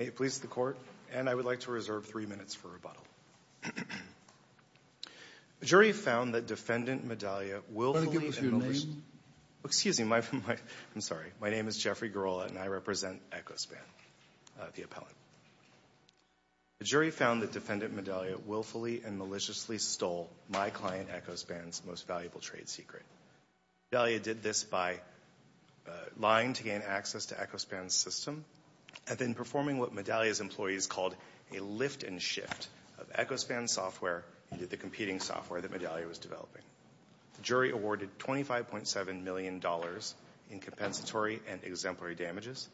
May it please the Court, and I would like to reserve three minutes for rebuttal. The jury found that Defendant Medallia willfully and maliciously stole my client Echospan's most valuable trade secret. Medallia did this by lying to gain access to Echospan's system and then performing what Medallia's employees called a lift and shift of Echospan's software into the competing software that Medallia was developing. The jury awarded $25.7 million in compensatory and exemplary damages,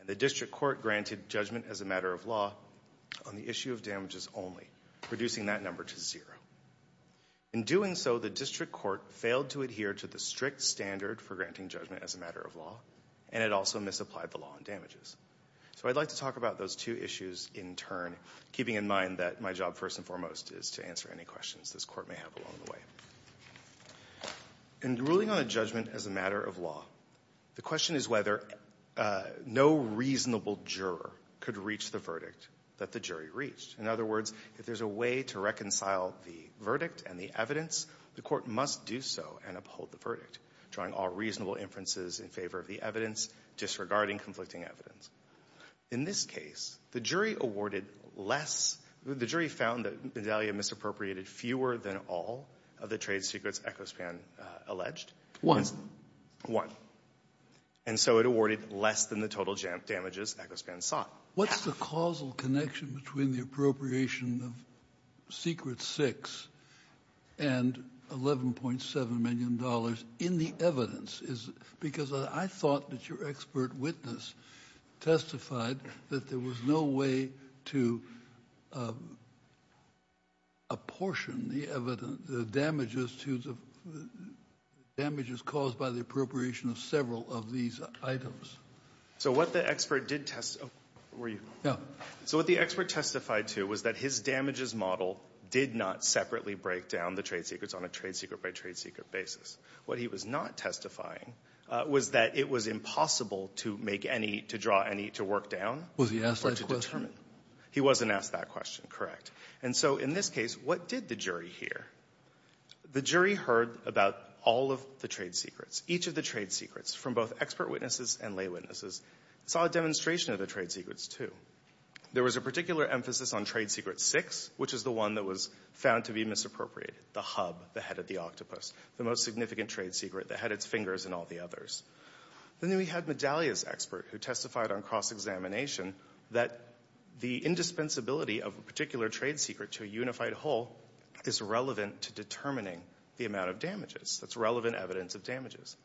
and the District Court granted judgment as a matter of law on the issue of damages only, reducing that number to zero. In doing so, the District Court failed to adhere to the strict standard for granting judgment as a matter of law, and it also misapplied the law on damages. So I'd like to talk about those two issues in turn, keeping in mind that my job first and foremost is to answer any questions this Court may have along the way. In ruling on a judgment as a matter of law, the question is whether no reasonable juror could reach the verdict that the jury reached. In other words, if there's a way to reconcile the verdict and the evidence, the Court must do so and uphold the verdict, drawing all reasonable inferences in favor of the evidence, disregarding conflicting evidence. In this case, the jury awarded less – the jury found that Medallia misappropriated fewer than all of the trade secrets Echospan alleged. One. And so it awarded less than the total damages Echospan sought. What's the causal connection between the appropriation of secret six and $11.7 million in the evidence? Because I thought that your expert witness testified that there was no way to apportion the damages caused by the appropriation of several of these items. So what the expert did – were you? No. So what the expert testified to was that his damages model did not separately break down the trade secrets on a trade secret by trade secret basis. What he was not testifying was that it was impossible to make any – to draw any to work down or to determine. Was he asked that question? He wasn't asked that question, correct. And so in this case, what did the jury hear? The jury heard about all of the trade secrets. Each of the trade secrets from both expert witnesses and lay witnesses saw a demonstration of the trade secrets, too. There was a particular emphasis on trade secret six, which is the one that was found to be misappropriated, the hub, the head of the octopus, the most significant trade secret that had its fingers and all the others. Then we had Medalia's expert who testified on cross-examination that the indispensability of a particular trade secret to a unified whole is relevant to determining the amount of damages. That's relevant evidence of damages.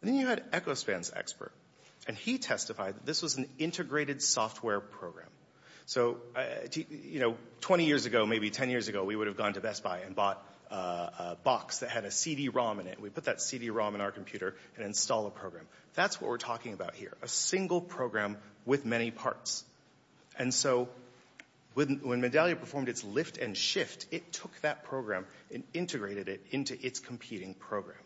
And then you had Echospan's expert, and he testified that this was an integrated software program. So, you know, 20 years ago, maybe 10 years ago, we would have gone to Best Buy and bought a box that had a CD-ROM in it. We'd put that CD-ROM in our computer and install a program. That's what we're talking about here, a single program with many parts. And so when Medalia performed its lift and shift, it took that program and integrated it into its competing program.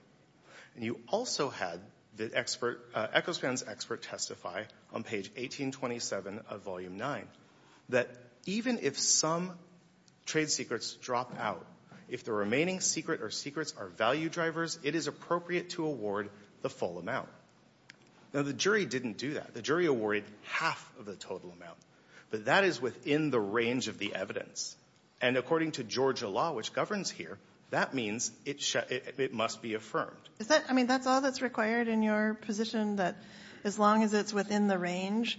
And you also had Echospan's expert testify on page 1827 of Volume 9 that even if some trade secrets drop out, if the remaining secret or secrets are value drivers, it is appropriate to award the full amount. Now, the jury didn't do that. The jury awarded half of the total amount. But that is within the range of the evidence. And according to Georgia law, which governs here, that means it must be affirmed. I mean, that's all that's required in your position, that as long as it's within the range,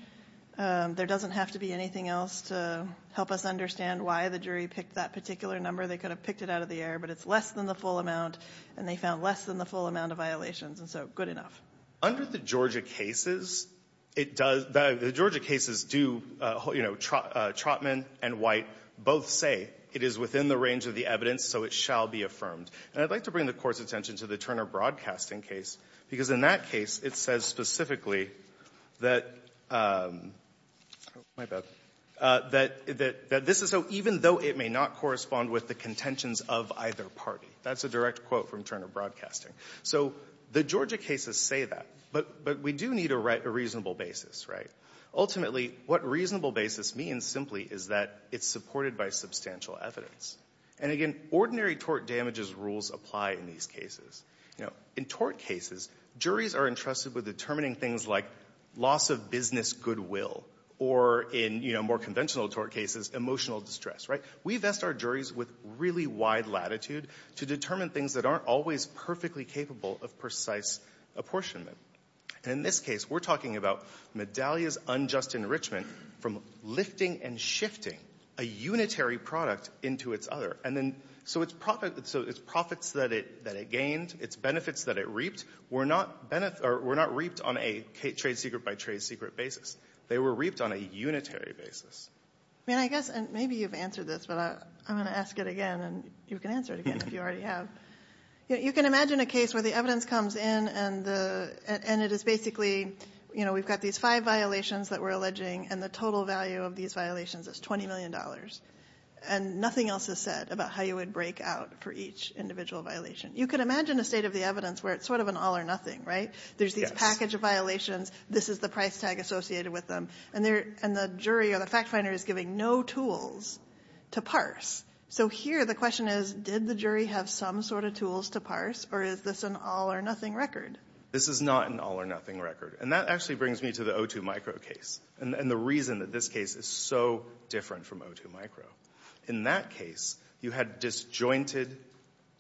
there doesn't have to be anything else to help us understand why the jury picked that particular number. They could have picked it out of the air, but it's less than the full amount, and they found less than the full amount of violations, and so good enough. Under the Georgia cases, it does – the Georgia cases do – you know, Trotman and White both say it is within the range of the evidence, so it shall be affirmed. And I'd like to bring the Court's attention to the Turner Broadcasting case, because in that case, it says specifically that – oh, my bad – that this is so, even though it may not correspond with the contentions of either party. That's a direct quote from Turner Broadcasting. So the Georgia cases say that, but we do need a reasonable basis, right? Ultimately, what reasonable basis means simply is that it's supported by substantial evidence. And again, ordinary tort damages rules apply in these cases. You know, in tort cases, juries are entrusted with determining things like loss of business goodwill, or in, you know, more conventional tort cases, emotional distress, right? We vest our juries with really wide latitude to determine things that aren't always perfectly capable of precise apportionment. And in this case, we're talking about Medallia's unjust enrichment from lifting and shifting a unitary product into its other. So its profits that it gained, its benefits that it reaped, were not reaped on a trade secret by trade secret basis. They were reaped on a unitary basis. I mean, I guess maybe you've answered this, but I'm going to ask it again, and you can answer it again if you already have. You can imagine a case where the evidence comes in, and it is basically, you know, we've got these five violations that we're alleging, and the total value of these violations is $20 million. And nothing else is said about how you would break out for each individual violation. You could imagine a state of the evidence where it's sort of an all or nothing, right? There's this package of violations. This is the price tag associated with them. And the jury or the fact finder is giving no tools to parse. So here the question is, did the jury have some sort of tools to parse, or is this an all or nothing record? This is not an all or nothing record. And that actually brings me to the O2 Micro case and the reason that this case is so different from O2 Micro. In that case, you had disjointed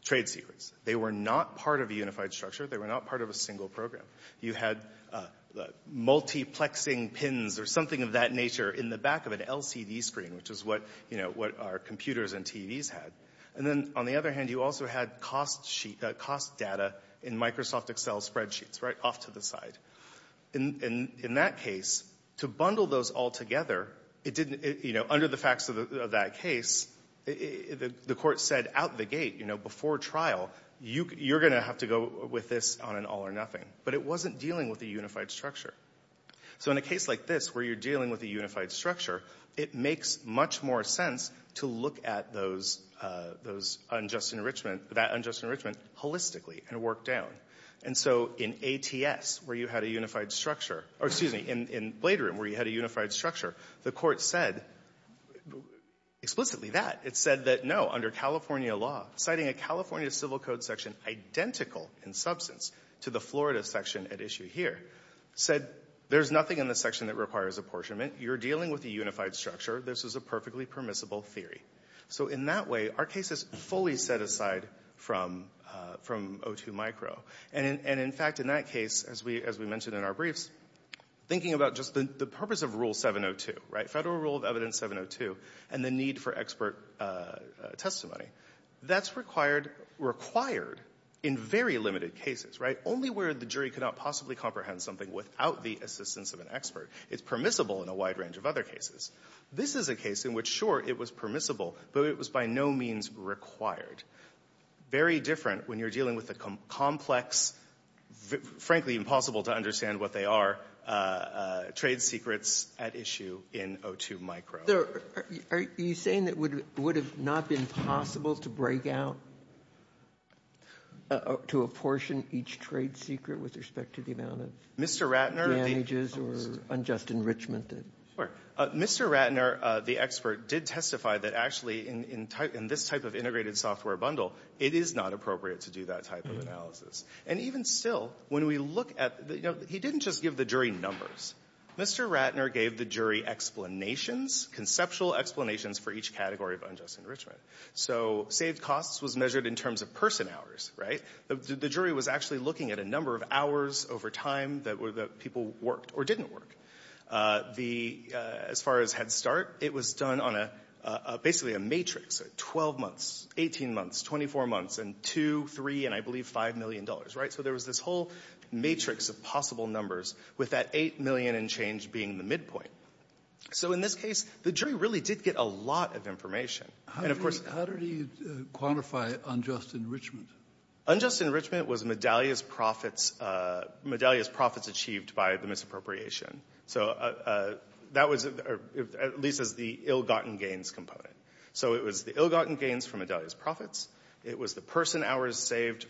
trade secrets. They were not part of a unified structure. They were not part of a single program. You had multiplexing pins or something of that nature in the back of an LCD screen, which is what, you know, what our computers and TVs had. And then on the other hand, you also had cost data in Microsoft Excel spreadsheets, right off to the side. In that case, to bundle those all together, it didn't, you know, under the facts of that case, the court said out the gate, you know, before trial, you're going to have to go with this on an all or nothing. But it wasn't dealing with a unified structure. So in a case like this, where you're dealing with a unified structure, it makes much more sense to look at those unjust enrichment, that unjust enrichment, holistically and work down. And so in ATS, where you had a unified structure, or excuse me, in Bladerim, where you had a unified structure, the court said explicitly that. It said that, no, under California law, citing a California civil code section identical in substance to the Florida section at issue here, said there's nothing in the section that requires apportionment. You're dealing with a unified structure. This is a perfectly permissible theory. So in that way, our case is fully set aside from O2 micro. And in fact, in that case, as we mentioned in our briefs, thinking about just the purpose of Rule 702, right, Federal Rule of Evidence 702 and the need for expert testimony, that's required in very limited cases, right, only where the jury could not possibly comprehend something without the assistance of an expert. It's permissible in a wide range of other cases. This is a case in which, sure, it was permissible, but it was by no means required. Very different when you're dealing with a complex, frankly impossible to understand what they are, trade secrets at issue in O2 micro. Sotomayor, are you saying that it would have not been possible to break out, to apportion each trade secret with respect to the amount of damages or unjust enrichment? Mr. Ratner, the expert, did testify that actually in this type of integrated software bundle, it is not appropriate to do that type of analysis. And even still, when we look at the, you know, he didn't just give the jury numbers. Mr. Ratner gave the jury explanations, conceptual explanations for each category of unjust enrichment. So saved costs was measured in terms of person hours, right? The jury was actually looking at a number of hours over time that people worked or didn't work. As far as Head Start, it was done on basically a matrix of 12 months, 18 months, 24 months, and two, three, and I believe $5 million, right? So there was this whole matrix of possible numbers with that $8 million and change being the midpoint. So in this case, the jury really did get a lot of information. How did he quantify unjust enrichment? Unjust enrichment was Medallia's profits achieved by the misappropriation. So that was at least as the ill-gotten gains component. So it was the ill-gotten gains from Medallia's profits. It was the person hours saved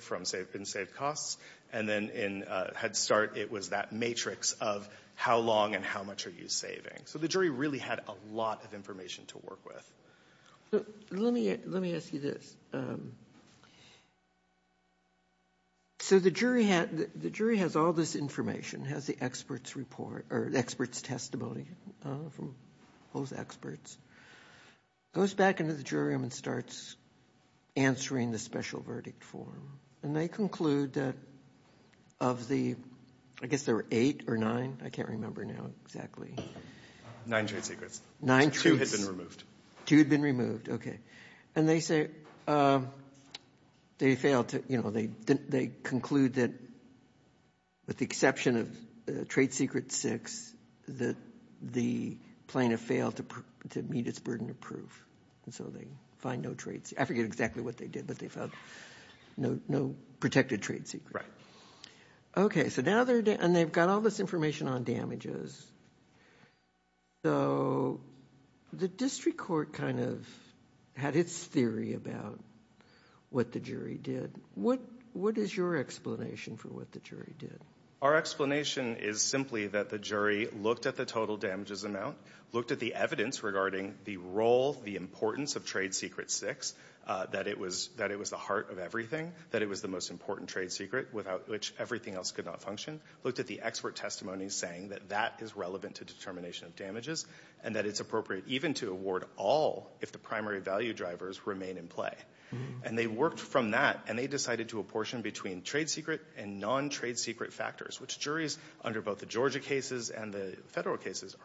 in saved costs. And then in Head Start, it was that matrix of how long and how much are you saving. So the jury really had a lot of information to work with. Let me ask you this. So the jury has all this information, has the expert's report or the expert's testimony from those experts. Goes back into the jury room and starts answering the special verdict form. And they conclude that of the, I guess there were eight or nine. I can't remember now exactly. Nine trade secrets. Two had been removed. Two had been removed. Okay. And they say they failed to, you know, they conclude that with the exception of trade secret six, that the plaintiff failed to meet its burden of proof. And so they find no trade secret. I forget exactly what they did, but they found no protected trade secret. Okay. So now they're, and they've got all this information on damages. So the district court kind of had its theory about what the jury did. What is your explanation for what the jury did? Our explanation is simply that the jury looked at the total damages amount, looked at the evidence regarding the role, the importance of trade secret six, that it was the heart of everything, that it was the most important trade secret, without which everything else could not function. Looked at the expert testimony saying that that is relevant to determination of damages and that it's appropriate even to award all if the primary value drivers remain in play. And they worked from that, and they decided to apportion between trade secret and non-trade secret factors, which juries under both the Georgia cases and the federal cases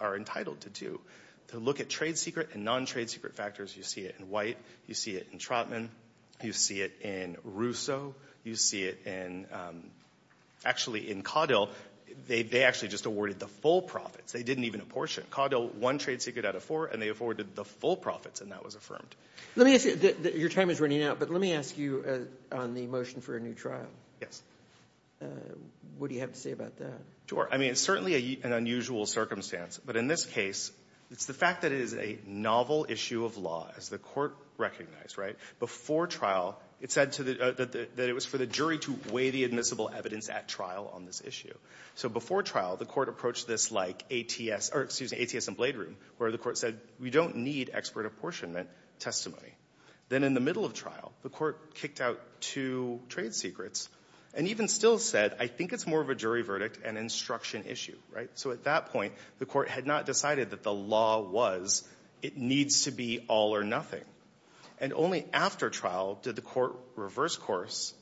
are entitled to do. To look at trade secret and non-trade secret factors, you see it in White. You see it in Trotman. You see it in Russo. You see it in actually in Caudill. They actually just awarded the full profits. They didn't even apportion. Caudill won trade secret out of four, and they afforded the full profits, and that was affirmed. Let me ask you. Your time is running out, but let me ask you on the motion for a new trial. Yes. What do you have to say about that? Sure. I mean, it's certainly an unusual circumstance, but in this case, it's the fact that it is a novel issue of law, as the court recognized, right? Before trial, it said that it was for the jury to weigh the admissible evidence at trial on this issue. So before trial, the court approached this like ATS and Blade Room, where the court said, we don't need expert apportionment testimony. Then in the middle of trial, the court kicked out two trade secrets and even still said, I think it's more of a jury verdict and instruction issue, right? So at that point, the court had not decided that the law was, it needs to be all or nothing. And only after trial did the court reverse course,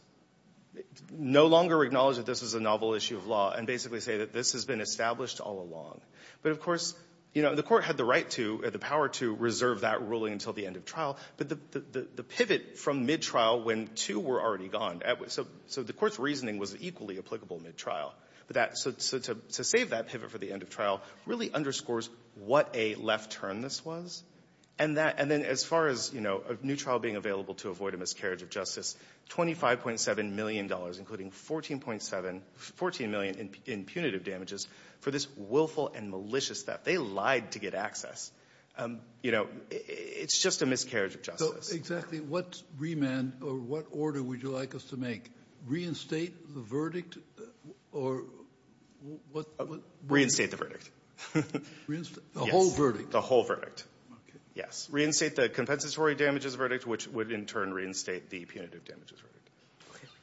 no longer acknowledge that this is a novel issue of law, and basically say that this has been established all along. But, of course, the court had the right to or the power to reserve that ruling until the end of trial, but the pivot from mid-trial when two were already gone, so the court's reasoning was equally applicable mid-trial. So to save that pivot for the end of trial really underscores what a left turn this was. And then as far as a new trial being available to avoid a miscarriage of justice, $25.7 million, including $14 million in punitive damages for this willful and malicious theft. They lied to get access. It's just a miscarriage of justice. Exactly. What remand or what order would you like us to make? Reinstate the verdict or what? Reinstate the verdict. The whole verdict? The whole verdict, yes. Reinstate the compensatory damages verdict, which would in turn reinstate the punitive damages verdict.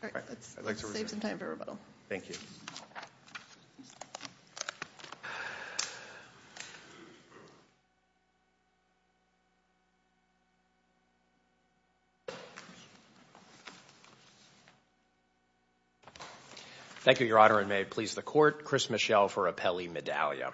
All right. Let's save some time for rebuttal. Thank you. Thank you, Your Honor, and may it please the court, Chris Michel for Appelli Medaglia.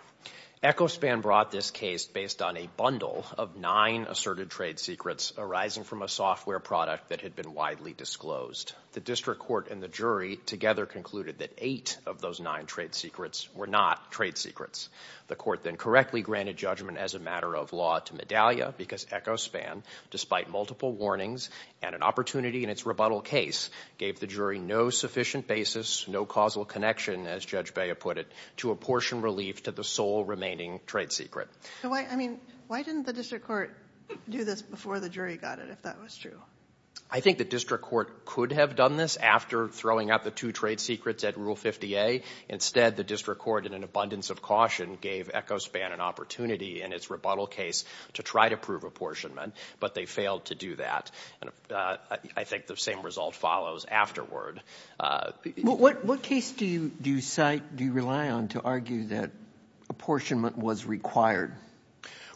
Echospan brought this case based on a bundle of nine asserted trade secrets arising from a software product that had been widely disclosed. The district court and the jury together concluded that eight of those nine trade secrets were not trade secrets. The court then correctly granted judgment as a matter of law to Medaglia because Echospan, despite multiple warnings and an opportunity in its rebuttal case, gave the jury no sufficient basis, no causal connection, as Judge Bea put it, to apportion relief to the sole remaining trade secret. Why didn't the district court do this before the jury got it, if that was true? I think the district court could have done this after throwing out the two trade secrets at Rule 50A. Instead, the district court, in an abundance of caution, gave Echospan an opportunity in its rebuttal case to try to prove apportionment, but they failed to do that. And I think the same result follows afterward. What case do you cite, do you rely on, to argue that apportionment was required?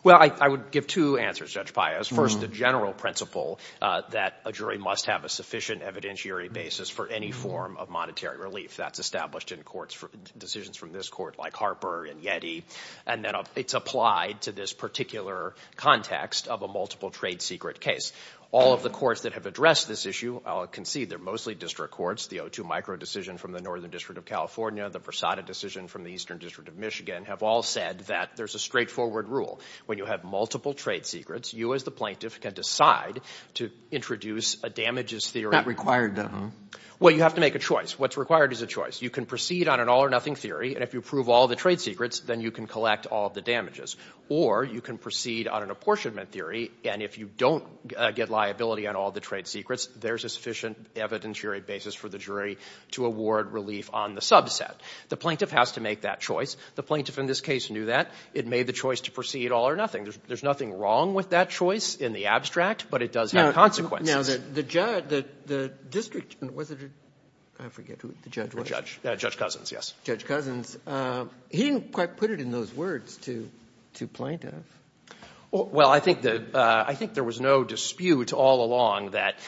Well, I would give two answers, Judge Pius. First, the general principle that a jury must have a sufficient evidentiary basis for any form of monetary relief. That's established in courts for decisions from this court like Harper and Yeti, and then it's applied to this particular context of a multiple trade secret case. All of the courts that have addressed this issue, I'll concede they're mostly district courts. The O2 micro decision from the Northern District of California, the Versada decision from the Eastern District of Michigan, have all said that there's a straightforward rule. When you have multiple trade secrets, you as the plaintiff can decide to introduce a damages theory. Not required, though. Well, you have to make a choice. What's required is a choice. You can proceed on an all-or-nothing theory, and if you prove all the trade secrets, then you can collect all the damages. Or you can proceed on an apportionment theory, and if you don't get liability on all the trade secrets, there's a sufficient evidentiary basis for the jury to award relief on the subset. The plaintiff has to make that choice. The plaintiff in this case knew that. It made the choice to proceed all-or-nothing. There's nothing wrong with that choice in the abstract, but it does have consequences. Now, the judge, the district, was it? I forget who the judge was. Judge Cousins, yes. Judge Cousins, he didn't quite put it in those words to plaintiff. Well, I think there was no dispute all along that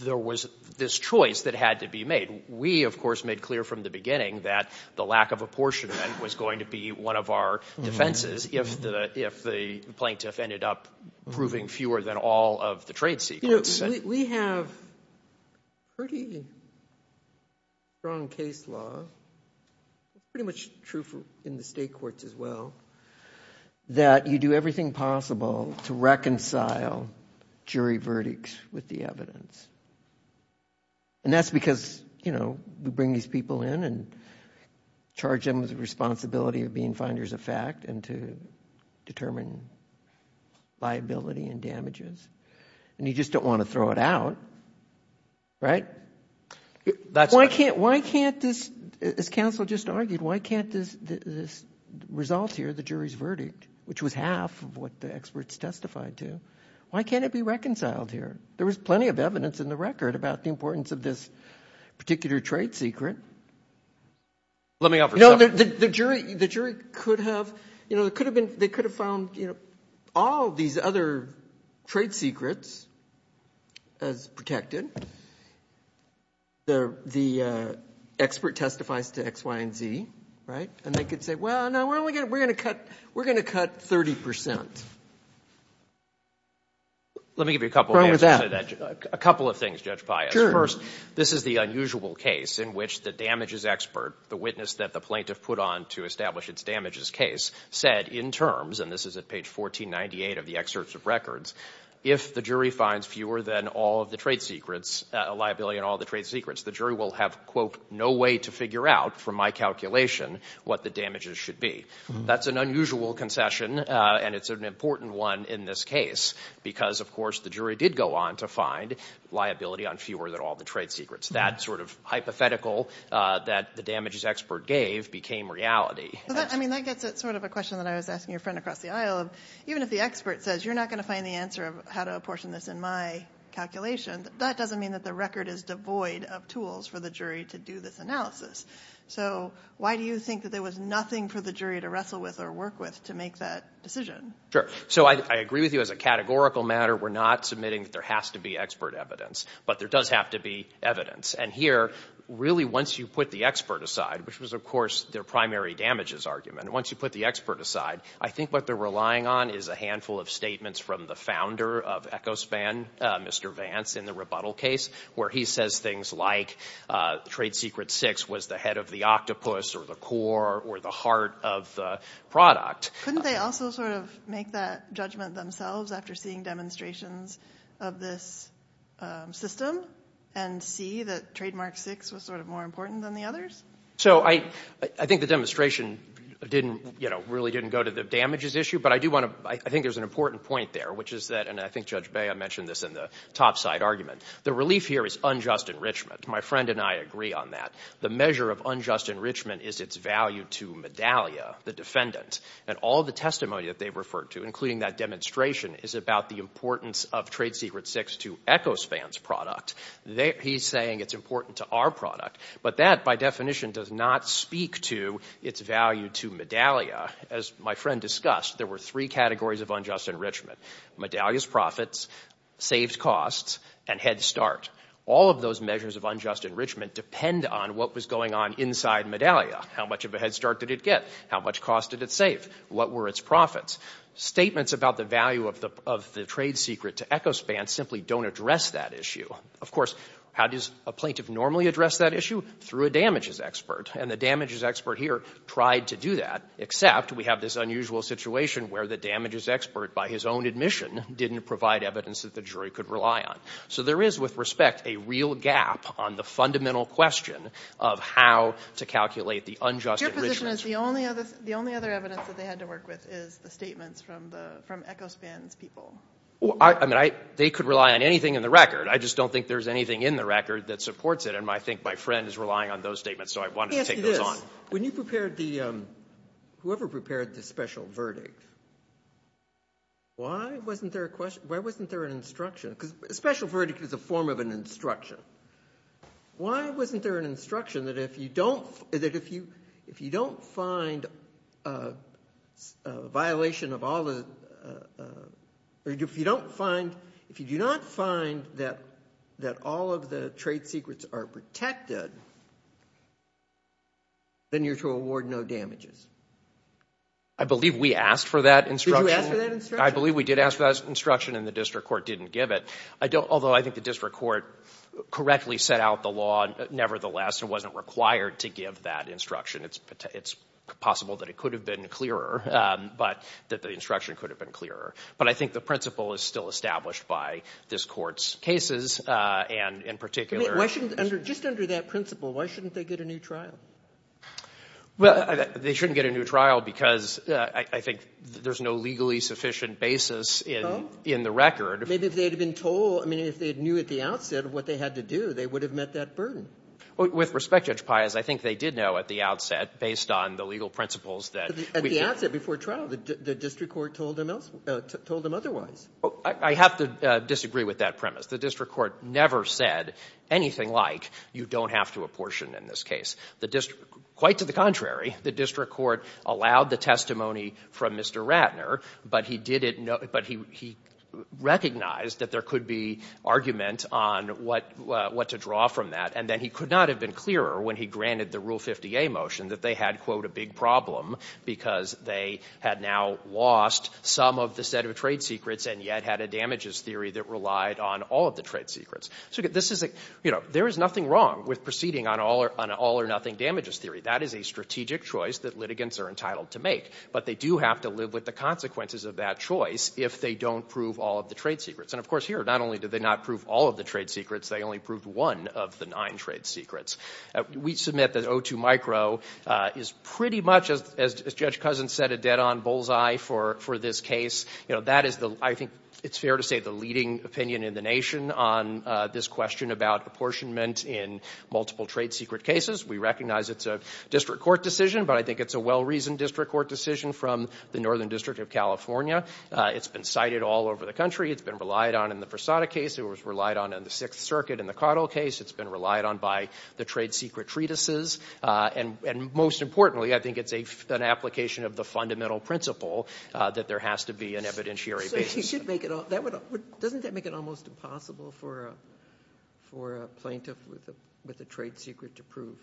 there was this choice that had to be made. We, of course, made clear from the beginning that the lack of apportionment was going to be one of our defenses if the plaintiff ended up proving fewer than all of the trade secrets. We have pretty strong case law, pretty much true in the state courts as well, that you do everything possible to reconcile jury verdicts with the evidence. That's because we bring these people in and charge them with the responsibility of being finders of fact and to determine liability and damages. And you just don't want to throw it out, right? That's right. Why can't this, as counsel just argued, why can't this result here, the jury's verdict, which was half of what the experts testified to, why can't it be reconciled here? There was plenty of evidence in the record about the importance of this particular trade secret. Let me offer something. The jury could have found all these other trade secrets as protected. The expert testifies to X, Y, and Z, right? And they could say, well, no, we're going to cut 30%. Let me give you a couple of answers to that. A couple of things, Judge Pius. First, this is the unusual case in which the damages expert, the witness that the plaintiff put on to establish its damages case, said in terms, and this is at page 1498 of the excerpts of records, if the jury finds fewer than all of the trade secrets, a liability on all the trade secrets, the jury will have, quote, no way to figure out from my calculation what the damages should be. That's an unusual concession, and it's an important one in this case because, of course, the jury did go on to find liability on fewer than all the trade secrets. That sort of hypothetical that the damages expert gave became reality. I mean, that gets at sort of a question that I was asking your friend across the aisle of even if the expert says you're not going to find the answer of how to apportion this in my calculation, that doesn't mean that the record is devoid of tools for the jury to do this analysis. So why do you think that there was nothing for the jury to wrestle with or work with to make that decision? Sure. So I agree with you as a categorical matter. We're not submitting that there has to be expert evidence, but there does have to be evidence. And here, really, once you put the expert aside, which was, of course, their primary damages argument, once you put the expert aside, I think what they're relying on is a handful of statements from the founder of EchoSpan, Mr. Vance, in the rebuttal case, where he says things like trade secret six was the head of the octopus or the core or the heart of the product. Couldn't they also sort of make that judgment themselves after seeing demonstrations of this system and see that trademark six was sort of more important than the others? So I think the demonstration didn't, you know, really didn't go to the damages issue, but I do want to, I think there's an important point there, which is that, and I think Judge Bea mentioned this in the topside argument, the relief here is unjust enrichment. My friend and I agree on that. The measure of unjust enrichment is its value to Medallia, the defendant, and all the testimony that they referred to, including that demonstration, is about the importance of trade secret six to EchoSpan's product. He's saying it's important to our product, but that, by definition, does not speak to its value to Medallia. As my friend discussed, there were three categories of unjust enrichment, Medallia's profits, saved costs, and Head Start. All of those measures of unjust enrichment depend on what was going on inside Medallia. How much of a Head Start did it get? How much cost did it save? What were its profits? Statements about the value of the trade secret to EchoSpan simply don't address that issue. Of course, how does a plaintiff normally address that issue? Through a damages expert, and the damages expert here tried to do that, except we have this unusual situation where the damages expert, by his own admission, didn't provide evidence that the jury could rely on. So there is, with respect, a real gap on the fundamental question of how to calculate the unjust enrichment. Your position is the only other evidence that they had to work with is the statements from EchoSpan's people. They could rely on anything in the record. I just don't think there's anything in the record that supports it, and I think my friend is relying on those statements, so I wanted to take those on. Let me ask you this. When you prepared the, whoever prepared the special verdict, why wasn't there a question, why wasn't there an instruction? Because a special verdict is a form of an instruction. Why wasn't there an instruction that if you don't, that if you, if you don't find a violation of all the, or if you don't find, if you do not find that all of the trade secrets are protected, then you're to award no damages. I believe we asked for that instruction. I believe we did ask for that instruction, and the district court didn't give it. I don't, although I think the district court correctly set out the law, nevertheless it wasn't required to give that instruction. It's possible that it could have been clearer, but that the instruction could have been clearer. But I think the principle is still established by this court's cases, and in particular. Why shouldn't, just under that principle, why shouldn't they get a new trial? Well, they shouldn't get a new trial because I think there's no legally sufficient basis in the record. Maybe if they had been told, I mean, if they knew at the outset of what they had to do, they would have met that burden. With respect, Judge Pai, as I think they did know at the outset, based on the legal principles that... At the outset, before trial, the district court told them otherwise. I have to disagree with that premise. The district court never said anything like, you don't have to apportion in this case. Quite to the contrary, the district court allowed the testimony from Mr. Ratner, but he recognized that there could be argument on what to draw from that. And then he could not have been clearer when he granted the Rule 50A motion that they had, quote, a big problem because they had now lost some of the set of trade secrets and yet had a damages theory that relied on all of the trade secrets. There is nothing wrong with proceeding on an all-or-nothing damages theory. That is a strategic choice that litigants are entitled to make. But they do have to live with the consequences of that choice if they don't prove all of the trade secrets. And, of course, here, not only did they not prove all of the trade secrets, they only proved one of the nine trade secrets. We submit that O2 Micro is pretty much, as Judge Cousins said, a dead-on bullseye for this case. You know, that is the – I think it's fair to say the leading opinion in the nation on this question about apportionment in multiple trade secret cases. We recognize it's a district court decision, but I think it's a well-reasoned district court decision from the Northern District of California. It's been cited all over the country. It's been relied on in the Versada case. It was relied on in the Sixth Circuit in the Cottle case. It's been relied on by the trade secret treatises. And most importantly, I think it's an application of the fundamental principle that there has to be an evidentiary basis. So you should make it – doesn't that make it almost impossible for a plaintiff with a trade secret to prove?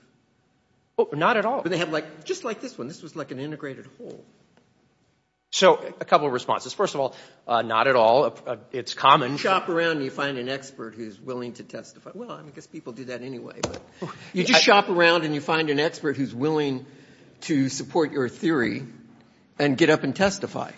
Not at all. But they have like – just like this one. This was like an integrated whole. So a couple of responses. First of all, not at all. It's common. You shop around and you find an expert who's willing to testify. Well, I guess people do that anyway. You just shop around and you find an expert who's willing to support your theory and get up and testify.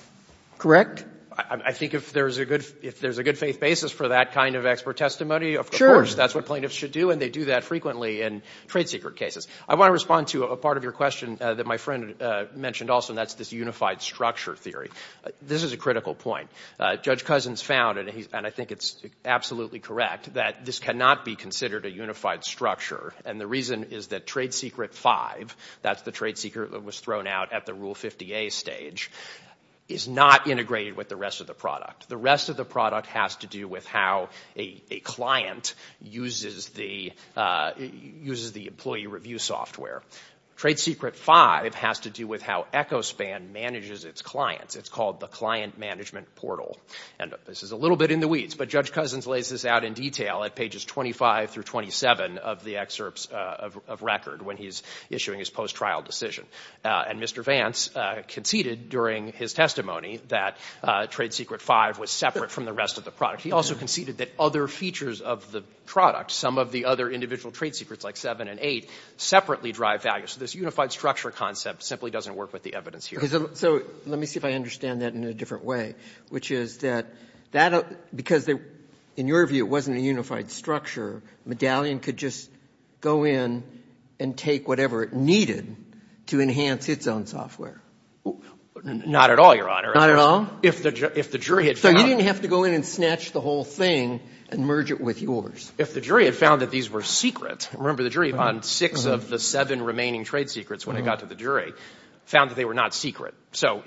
I think if there's a good faith basis for that kind of expert testimony, of course. That's what plaintiffs should do, and they do that frequently in trade secret cases. I want to respond to a part of your question that my friend mentioned also, and that's this unified structure theory. This is a critical point. Judge Cousins found, and I think it's absolutely correct, that this cannot be considered a unified structure. And the reason is that Trade Secret 5, that's the trade secret that was thrown out at the Rule 50A stage, is not integrated with the rest of the product. The rest of the product has to do with how a client uses the employee review software. Trade Secret 5 has to do with how Echospan manages its clients. It's called the client management portal. And this is a little bit in the weeds, but Judge Cousins lays this out in detail at pages 25 through 27 of the excerpts of record when he's issuing his post-trial decision. And Mr. Vance conceded during his testimony that Trade Secret 5 was separate from the rest of the product. He also conceded that other features of the product, some of the other individual trade secrets like 7 and 8, separately drive value. So this unified structure concept simply doesn't work with the evidence here. So let me see if I understand that in a different way, which is that because in your view it wasn't a unified structure, Medallion could just go in and take whatever it needed to enhance its own software. Not at all, Your Honor. Not at all? If the jury had found... So you didn't have to go in and snatch the whole thing and merge it with yours. If the jury had found that these were secret, remember the jury found 6 of the 7 remaining trade secrets when it got to the jury, found that they were not secret. So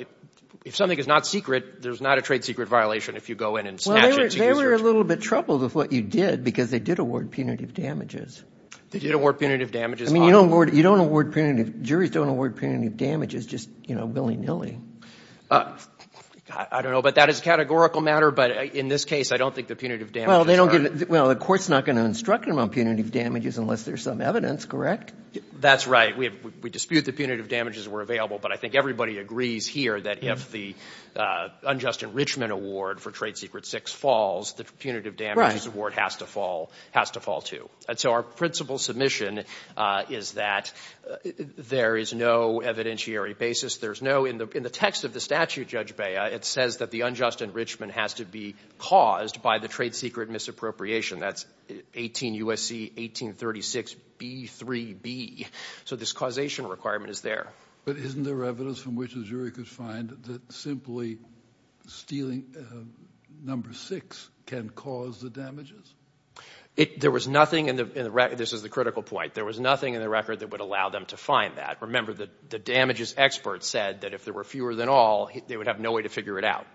if something is not secret, there's not a trade secret violation if you go in and snatch it. Well, they were a little bit troubled with what you did because they did award punitive damages. They did award punitive damages. I mean, you don't award punitive... Juries don't award punitive damages just, you know, willy-nilly. I don't know, but that is a categorical matter. But in this case, I don't think the punitive damages... Well, the court's not going to instruct him on punitive damages unless there's some evidence, correct? That's right. We dispute the punitive damages were available, but I think everybody agrees here that if the unjust enrichment award for trade secret 6 falls, the punitive damages award has to fall too. And so our principal submission is that there is no evidentiary basis. There's no... In the text of the statute, Judge Bea, it says that the unjust enrichment has to be caused by the trade secret misappropriation. That's 18 U.S.C. 1836 B.3.B. So this causation requirement is there. But isn't there evidence from which a jury could find that simply stealing number 6 can cause the damages? There was nothing in the record... This is the critical point. There was nothing in the record that would allow them to find that. Remember, the damages expert said that if there were fewer than all, they would have no way to figure it out.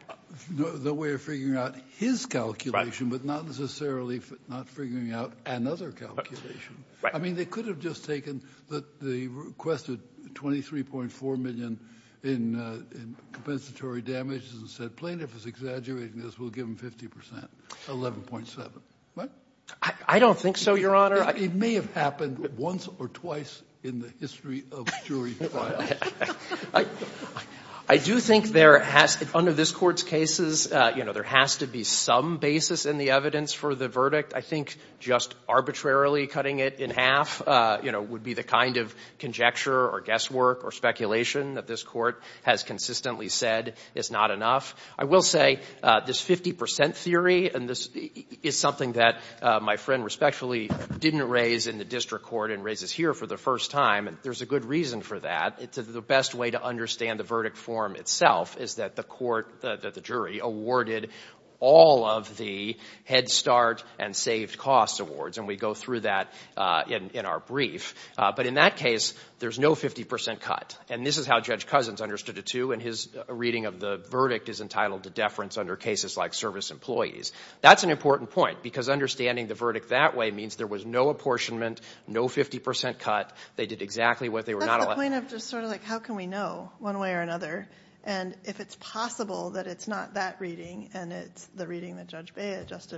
No way of figuring out his calculation, but not necessarily not figuring out another calculation. I mean, they could have just taken the requested 23.4 million in compensatory damages and said plaintiff is exaggerating this. We'll give him 50 percent, 11.7. I don't think so, Your Honor. It may have happened once or twice in the history of jury trials. I do think there has... Under this Court's cases, you know, there has to be some basis in the evidence for the verdict. I think just arbitrarily cutting it in half, you know, would be the kind of conjecture or guesswork or speculation that this Court has consistently said is not enough. I will say this 50 percent theory, and this is something that my friend respectfully didn't raise in the district court and raises here for the first time. There's a good reason for that. The best way to understand the verdict form itself is that the court, that the jury, awarded all of the Head Start and Saved Costs awards, and we go through that in our brief. But in that case, there's no 50 percent cut. And this is how Judge Cousins understood it, too, and his reading of the verdict is entitled to deference under cases like service employees. That's an important point because understanding the verdict that way means there was no apportionment, no 50 percent cut, they did exactly what they were not allowed to do. That's the point of just sort of like how can we know, one way or another, and if it's possible that it's not that reading and it's the reading that Judge Bea just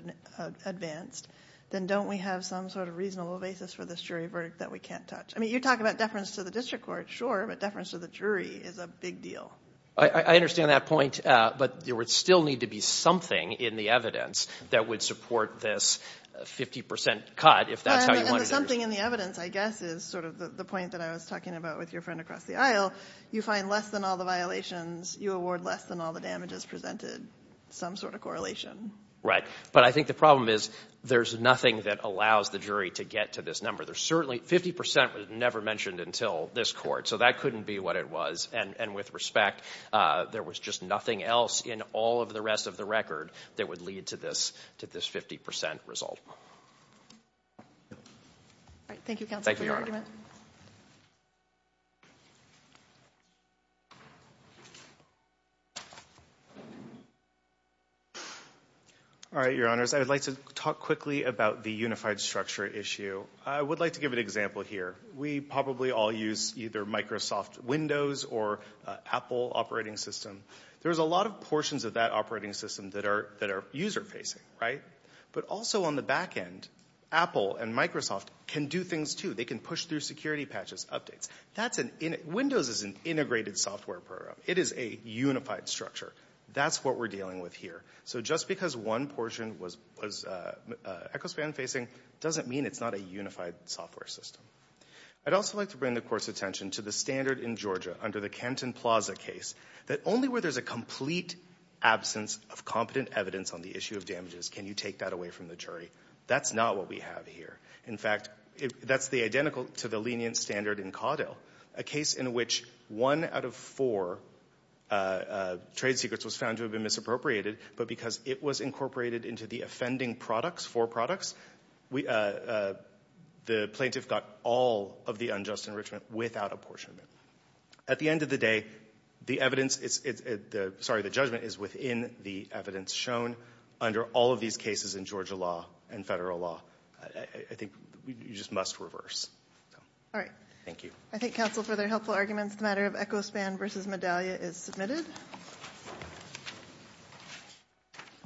advanced, then don't we have some sort of reasonable basis for this jury verdict that we can't touch? I mean, you talk about deference to the district court, sure, but deference to the jury is a big deal. I understand that point, but there would still need to be something in the evidence that would support this 50 percent cut if that's how you wanted to do it. And the something in the evidence, I guess, is sort of the point that I was talking about with your friend across the aisle. You find less than all the violations, you award less than all the damages presented, some sort of correlation. Right, but I think the problem is there's nothing that allows the jury to get to this number. There's certainly 50 percent was never mentioned until this court, so that couldn't be what it was. And with respect, there was just nothing else in all of the rest of the record that would lead to this 50 percent result. All right, thank you, counsel, for your argument. Thank you, Your Honor. All right, Your Honors, I would like to talk quickly about the unified structure issue. I would like to give an example here. We probably all use either Microsoft Windows or Apple operating system. There's a lot of portions of that operating system that are user-facing, right? But also on the back end, Apple and Microsoft can do things too. They can push through security patches, updates. Windows is an integrated software program. It is a unified structure. That's what we're dealing with here. So just because one portion was EchoSpan-facing doesn't mean it's not a unified software system. I'd also like to bring the court's attention to the standard in Georgia under the Kenton Plaza case that only where there's a complete absence of competent evidence on the issue of damages can you take that away from the jury. That's not what we have here. In fact, that's identical to the lenient standard in Caudill, a case in which one out of four trade secrets was found to have been misappropriated, but because it was incorporated into the offending products, four products, the plaintiff got all of the unjust enrichment without apportionment. At the end of the day, the judgment is within the evidence shown under all of these cases in Georgia law and federal law. I think you just must reverse. Thank you. I thank counsel for their helpful arguments. The matter of EchoSpan v. Medallia is submitted.